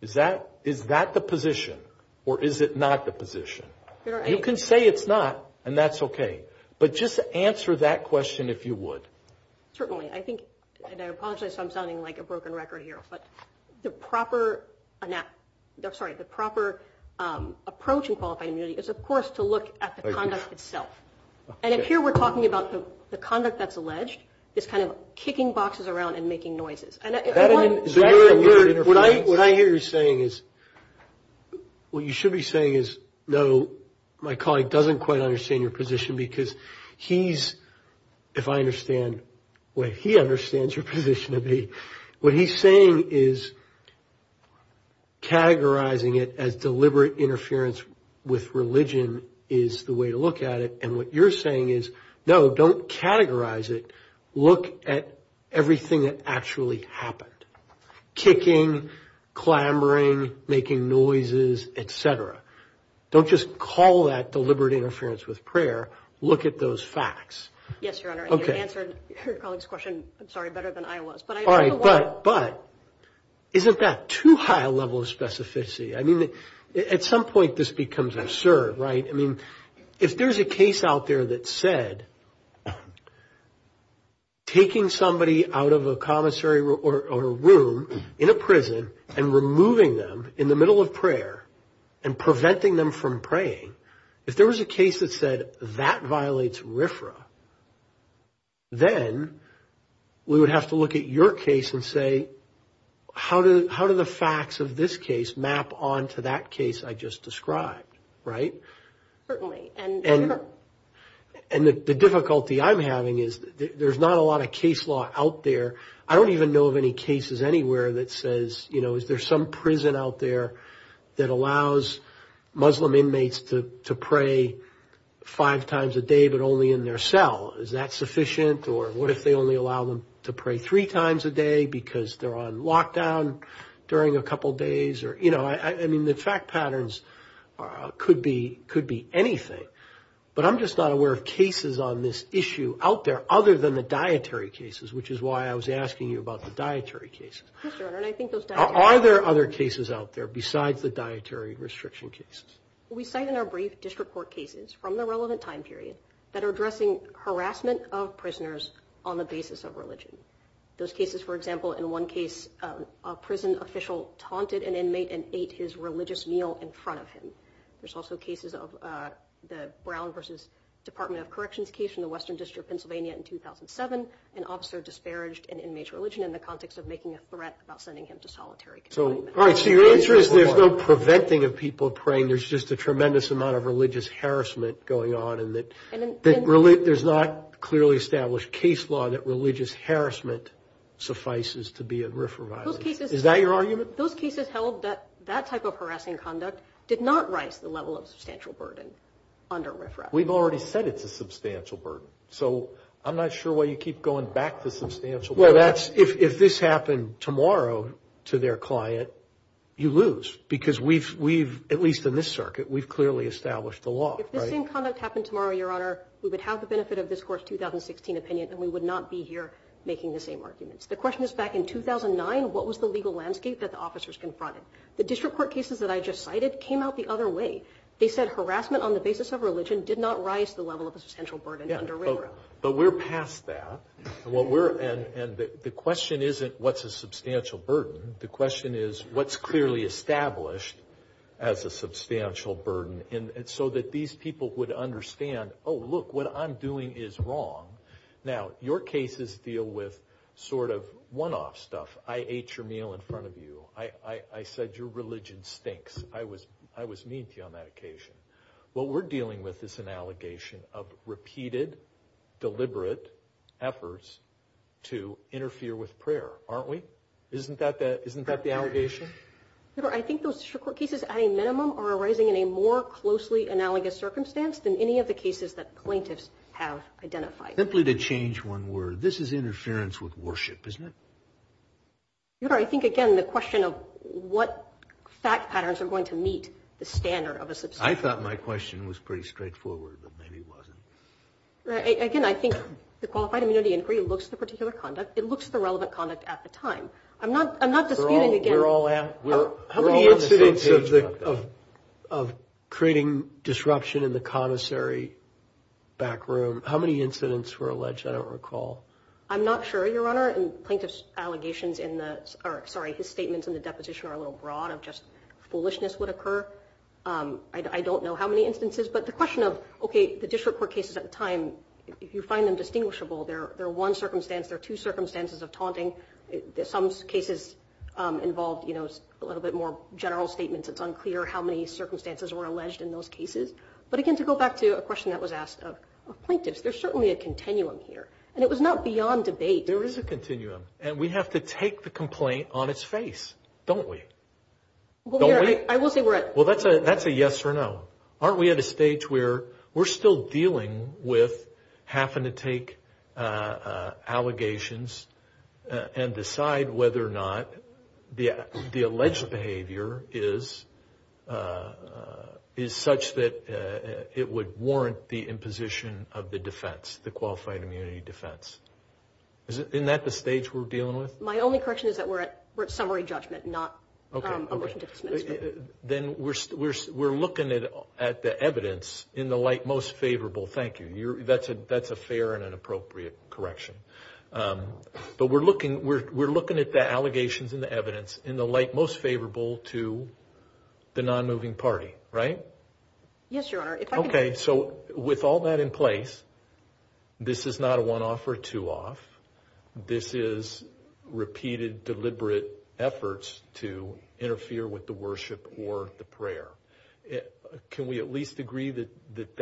Is that the position or is it not the position? You can say it's not and that's okay. But just answer that question if you would. Certainly, I think, and I apologize if I'm sounding like a broken record here, but the proper, I'm sorry, the proper approach in qualified immunity is of course to look at the conduct itself. And if here we're talking about the conduct that's alleged, this kind of kicking boxes around and making noises. And if you want to- So what I hear you saying is, what you should be saying is, no, my colleague doesn't quite understand your position because he's, if I understand what he understands your position to be, what he's saying is, categorizing it as deliberate interference with religion is the way to look at it. And what you're saying is, no, don't categorize it. Look at everything that actually happened. Kicking, clamoring, making noises, et cetera. Don't just call that deliberate interference with prayer. Look at those facts. Yes, Your Honor. Okay. You answered your colleague's question, I'm sorry, better than I was. All right, but isn't that too high a level of specificity? I mean, at some point this becomes absurd, right? I mean, if there's a case out there that said taking somebody out of a commissary or a room in a prison and removing them in the middle of prayer and preventing them from praying, if there was a case that said that violates RFRA, then we would have to look at your case and say, how do the facts of this case map onto that case I just described, right? Certainly. And the difficulty I'm having is there's not a lot of case law out there. I don't even know of any cases anywhere that says, you know, is there some prison out there that allows Muslim inmates to pray five times a day, but only in their cell? Is that sufficient? Or what if they only allow them to pray three times a day because they're on lockdown during a couple of days? Or, you know, I mean, the fact patterns could be anything, but I'm just not aware of cases on this issue out there other than the dietary cases, which is why I was asking you about the dietary cases. Yes, Your Honor, and I think those dietary cases- Are there other cases out there besides the dietary restriction cases? We cite in our brief district court cases from the relevant time period that are addressing harassment of prisoners on the basis of religion. Those cases, for example, in one case, a prison official taunted an inmate and ate his religious meal in front of him. There's also cases of the Brown versus Department of Corrections case in the Western District of Pennsylvania in 2007, an officer disparaged an inmate's religion in the context of making a threat about sending him to solitary confinement. All right, so your answer is there's no preventing of people praying. There's just a tremendous amount of religious harassment going on and that there's not clearly established case law that religious harassment suffices to be a RFRA violation. Is that your argument? Those cases held that that type of harassing conduct did not raise the level of substantial burden under RFRA. We've already said it's a substantial burden, so I'm not sure why you keep going back to substantial burden. If this happened tomorrow to their client, you lose because we've, at least in this circuit, we've clearly established the law. If the same conduct happened tomorrow, Your Honor, we would have the benefit of this court's 2016 opinion and we would not be here making the same arguments. The question is back in 2009, what was the legal landscape that the officers confronted? The district court cases that I just cited came out the other way. They said harassment on the basis of religion did not rise the level of a substantial burden under RFRA. But we're past that. And the question isn't what's a substantial burden. The question is what's clearly established as a substantial burden so that these people would understand, oh, look, what I'm doing is wrong. Now, your cases deal with sort of one-off stuff. I ate your meal in front of you. I said your religion stinks. I was mean to you on that occasion. What we're dealing with is an allegation of repeated, deliberate efforts to interfere with prayer, aren't we? Isn't that the allegation? Your Honor, I think those district court cases at a minimum are arising in a more closely analogous circumstance than any of the cases that plaintiffs have identified. Simply to change one word, this is interference with worship, isn't it? Your Honor, I think, again, the question of what fact patterns are going to meet the standard of a substantial burden. I thought my question was pretty straightforward, but maybe it wasn't. Again, I think the Qualified Immunity Inquiry looks at the particular conduct. It looks at the relevant conduct at the time. I'm not disputing again- We're all on the same page about that. How many incidents of creating disruption in the connoisseur back room, how many incidents were alleged? I don't recall. I'm not sure, Your Honor, and plaintiff's allegations in the, sorry, his statements in the deposition are a little broad of just foolishness would occur. I don't know how many instances, but the question of, okay, the district court cases at the time, if you find them distinguishable, there are one circumstance, there are two circumstances of taunting. Some cases involved a little bit more general statements. It's unclear how many circumstances were alleged in those cases. But again, to go back to a question that was asked of plaintiffs, there's certainly a continuum here, and it was not beyond debate. There is a continuum, and we have to take the complaint on its face, don't we? Don't we? I will say we're at- Well, that's a yes or no. Aren't we at a stage where we're still dealing with having to take allegations and decide whether or not the alleged behavior is such that it would warrant the imposition of the defense, the qualified immunity defense? Isn't that the stage we're dealing with? My only correction is that we're at summary judgment, not a motion to dismiss. Then we're looking at the evidence in the light most favorable. Thank you. That's a fair and an appropriate correction. But we're looking at the allegations and the evidence in the light most favorable to the non-moving party, right? Yes, Your Honor. Okay, so with all that in place, this is not a one-off or two-off. This is repeated, deliberate efforts to interfere with the worship or the prayer. Can we at least agree that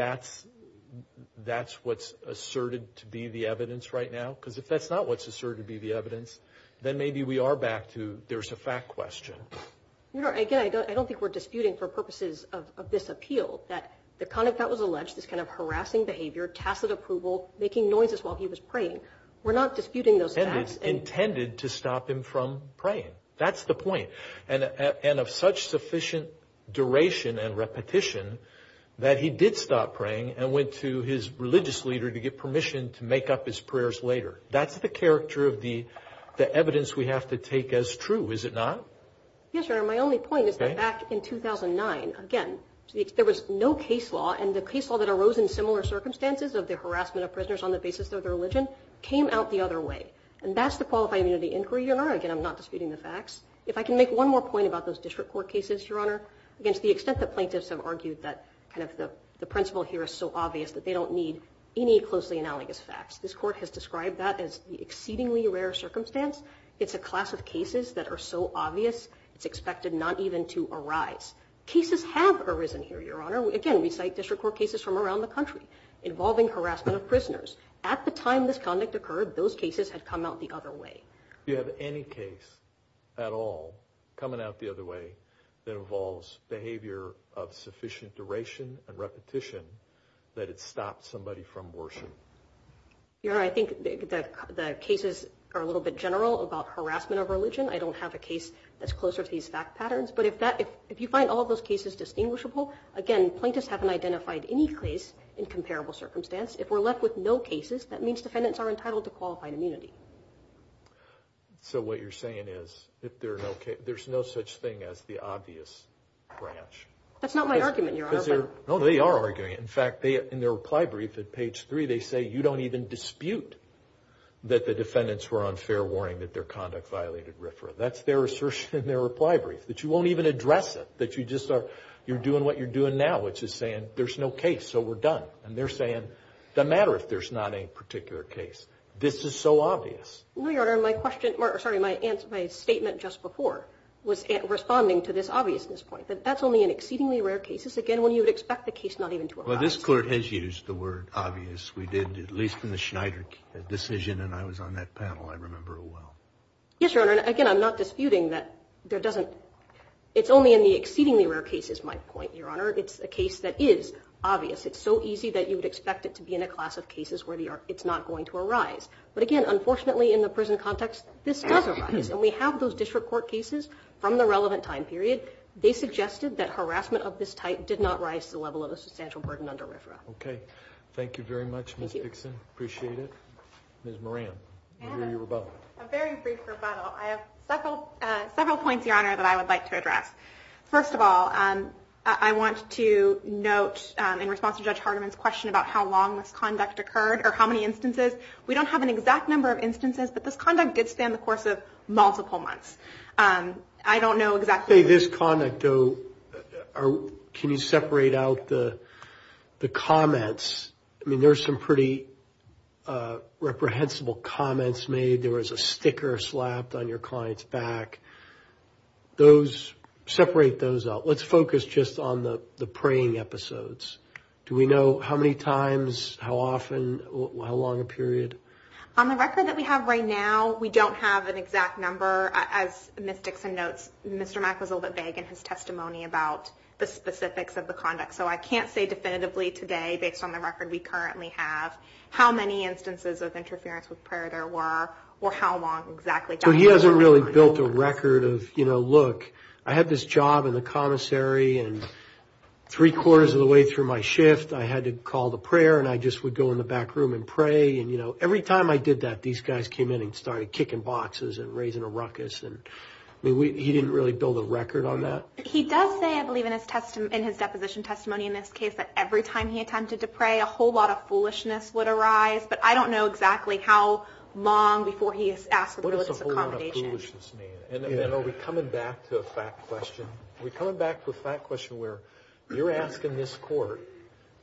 that's what's asserted to be the evidence right now? Because if that's not what's asserted to be the evidence, then maybe we are back to there's a fact question. Your Honor, again, I don't think we're disputing for purposes of this appeal that the conduct that was alleged, this kind of harassing behavior, tacit approval, making noises while he was praying, we're not disputing those facts and- Intended to stop him from praying. That's the point. And of such sufficient duration and repetition that he did stop praying and went to his religious leader to get permission to make up his prayers later. That's the character of the evidence we have to take as true, is it not? Yes, Your Honor. My only point is that back in 2009, again, there was no case law and the case law that arose in similar circumstances of the harassment of prisoners on the basis of their religion came out the other way. And that's the Qualified Immunity Inquiry, Your Honor. Again, I'm not disputing the facts. If I can make one more point about those district court cases, Your Honor, against the extent that plaintiffs have argued that kind of the principle here is so obvious that they don't need any closely analogous facts. This court has described that as the exceedingly rare circumstance. It's a class of cases that are so obvious, it's expected not even to arise. Cases have arisen here, Your Honor. Again, we cite district court cases from around the country involving harassment of prisoners. At the time this conduct occurred, those cases had come out the other way. Do you have any case at all coming out the other way that involves behavior of sufficient duration and repetition that it stopped somebody from worship? Your Honor, I think the cases are a little bit general about harassment of religion. I don't have a case that's closer to these fact patterns. But if you find all of those cases distinguishable, again, plaintiffs haven't identified any case in comparable circumstance. If we're left with no cases, that means defendants are entitled to qualified immunity. So what you're saying is, if there are no cases, there's no such thing as the obvious branch. That's not my argument, Your Honor. No, they are arguing it. In fact, in their reply brief at page three, they say you don't even dispute that the defendants were on fair warning that their conduct violated RFRA. That's their assertion in their reply brief, that you won't even address it, that you're doing what you're doing now, which is saying there's no case, so we're done. And they're saying, doesn't matter if there's not a particular case. This is so obvious. No, Your Honor. My question, or sorry, my statement just before was responding to this obviousness point, that that's only in exceedingly rare cases. Again, when you would expect the case not even to arise. Well, this Court has used the word obvious. We did, at least in the Schneider decision, and I was on that panel, I remember it well. Yes, Your Honor. Again, I'm not disputing that there doesn't, it's only in the exceedingly rare cases, my point, Your Honor. It's a case that is obvious. It's so easy that you would expect it to be in a class of cases where it's not going to arise. But again, unfortunately, in the prison context, this does arise. And we have those district court cases from the relevant time period. They suggested that harassment of this type did not rise to the level of a substantial burden under RFRA. Okay. Thank you very much, Ms. Dixon. Appreciate it. Ms. Moran, I hear your rebuttal. A very brief rebuttal. I have several points, Your Honor, that I would like to address. First of all, I want to note, in response to Judge Hardiman's question about how long this conduct occurred, or how many instances, we don't have an exact number of instances, but this conduct did stand the course of multiple months. I don't know exactly... This conduct, though, can you separate out the comments? I mean, there's some pretty reprehensible comments made. There was a sticker slapped on your client's back. Those, separate those out. Let's focus just on the preying episodes. Do we know how many times, how often, how long a period? On the record that we have right now, we don't have an exact number. As Ms. Dixon notes, Mr. Mack was a little bit vague in his testimony about the specifics of the conduct. So I can't say definitively today, based on the record we currently have, how many instances of interference with prayer there were, or how long exactly. So he hasn't really built a record of, you know, look, I had this job in the commissary, and three quarters of the way through my shift, I had to call the prayer, and I just would go in the back room and pray. And, you know, every time I did that, these guys came in and started kicking boxes and raising a ruckus. And I mean, he didn't really build a record on that. He does say, I believe, in his deposition testimony in this case, that every time he attempted to pray, a whole lot of foolishness would arise. But I don't know exactly how long before he asked for the religious accommodation. What does a whole lot of foolishness mean? And are we coming back to a fact question? We're coming back to a fact question where you're asking this court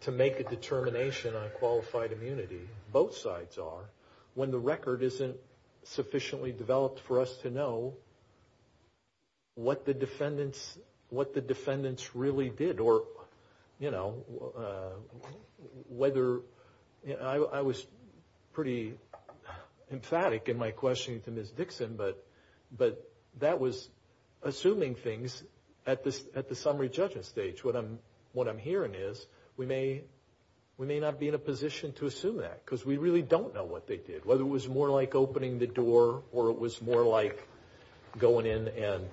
to make a determination on qualified immunity, both sides are, when the record isn't sufficiently developed for us to know what the defendants really did. Or, you know, whether, I was pretty emphatic in my questioning to Ms. Dixon, but that was assuming things at the summary judgment stage. What I'm hearing is we may not be in a position to assume that because we really don't know what they did. Whether it was more like opening the door or it was more like going in and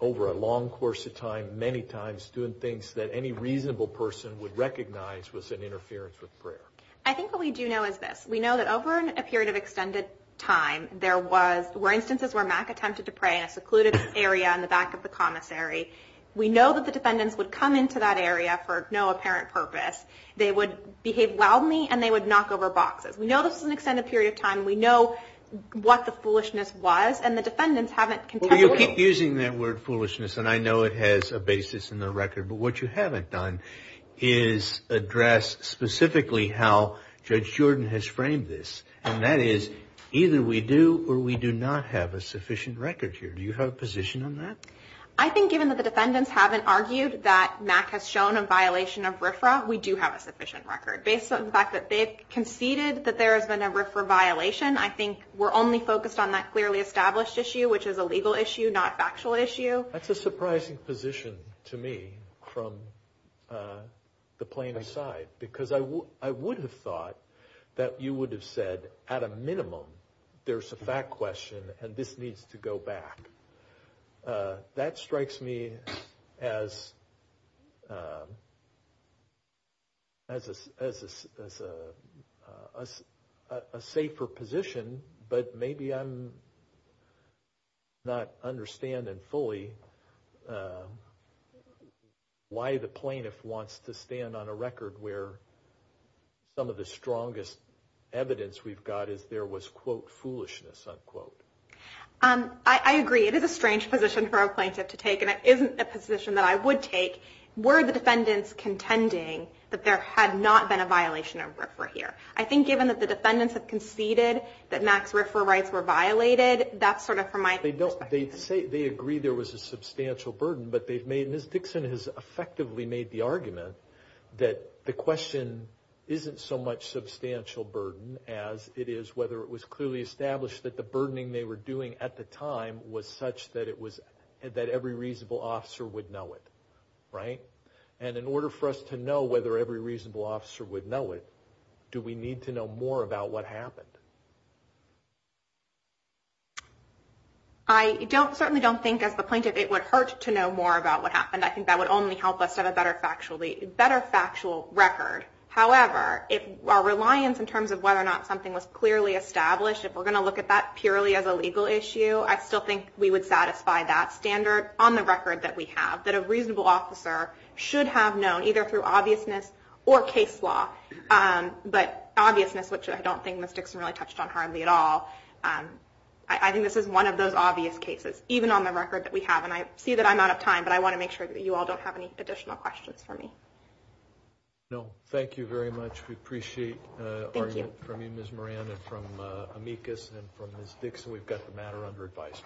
over a long course of time, many times doing things that any reasonable person would recognize was an interference with prayer. I think what we do know is this. We know that over a period of extended time, there were instances where Mack attempted to pray in a secluded area in the back of the commissary. We know that the defendants would come into that area for no apparent purpose. They would behave wildly and they would knock over boxes. We know this was an extended period of time. We know what the foolishness was and the defendants haven't contended with it. Well, you keep using that word foolishness and I know it has a basis in the record, but what you haven't done is address specifically how Judge Jordan has framed this. And that is either we do or we do not have a sufficient record here. Do you have a position on that? I think given that the defendants haven't argued that Mack has shown a violation of RFRA, we do have a sufficient record. Based on the fact that they conceded that there has been a RFRA violation, I think we're only focused on that clearly established issue, which is a legal issue, not a factual issue. That's a surprising position to me from the plaintiff's side because I would have thought that you would have said, at a minimum, there's a fact question and this needs to go back. That strikes me as a safer position, but maybe I'm not understanding fully why the plaintiff wants to stand on a record where some of the strongest evidence we've got is there was, quote, foolishness, unquote. I agree. It is a strange position for a plaintiff to take and it isn't a position that I would take were the defendants contending that there had not been a violation of RFRA here. I think given that the defendants have conceded that Mack's RFRA rights were violated, that's sort of from my perspective. They agree there was a substantial burden, but Ms. Dixon has effectively made the argument that the question isn't so much substantial burden as it is whether it was clearly established that the burdening they were doing at the time was such that every reasonable officer would know it, right? And in order for us to know whether every reasonable officer would know it, do we need to know more about what happened? I certainly don't think, as the plaintiff, it would hurt to know more about what happened. I think that would only help us to have a better factual, better factual record. However, our reliance in terms of whether or not something was clearly established, if we're going to look at that purely as a legal issue, I still think we would satisfy that standard on the record that we have, that a reasonable officer should have known either through obviousness or case law. But obviousness, which I don't think Ms. Dixon really touched on hardly at all, I think this is one of those obvious cases, even on the record that we have. And I see that I'm out of time, but I want to make sure that you all don't have any additional questions for me. No, thank you very much. We appreciate it from you, Ms. Moran, and from amicus and from Ms. Dixon. We've got the matter under advice.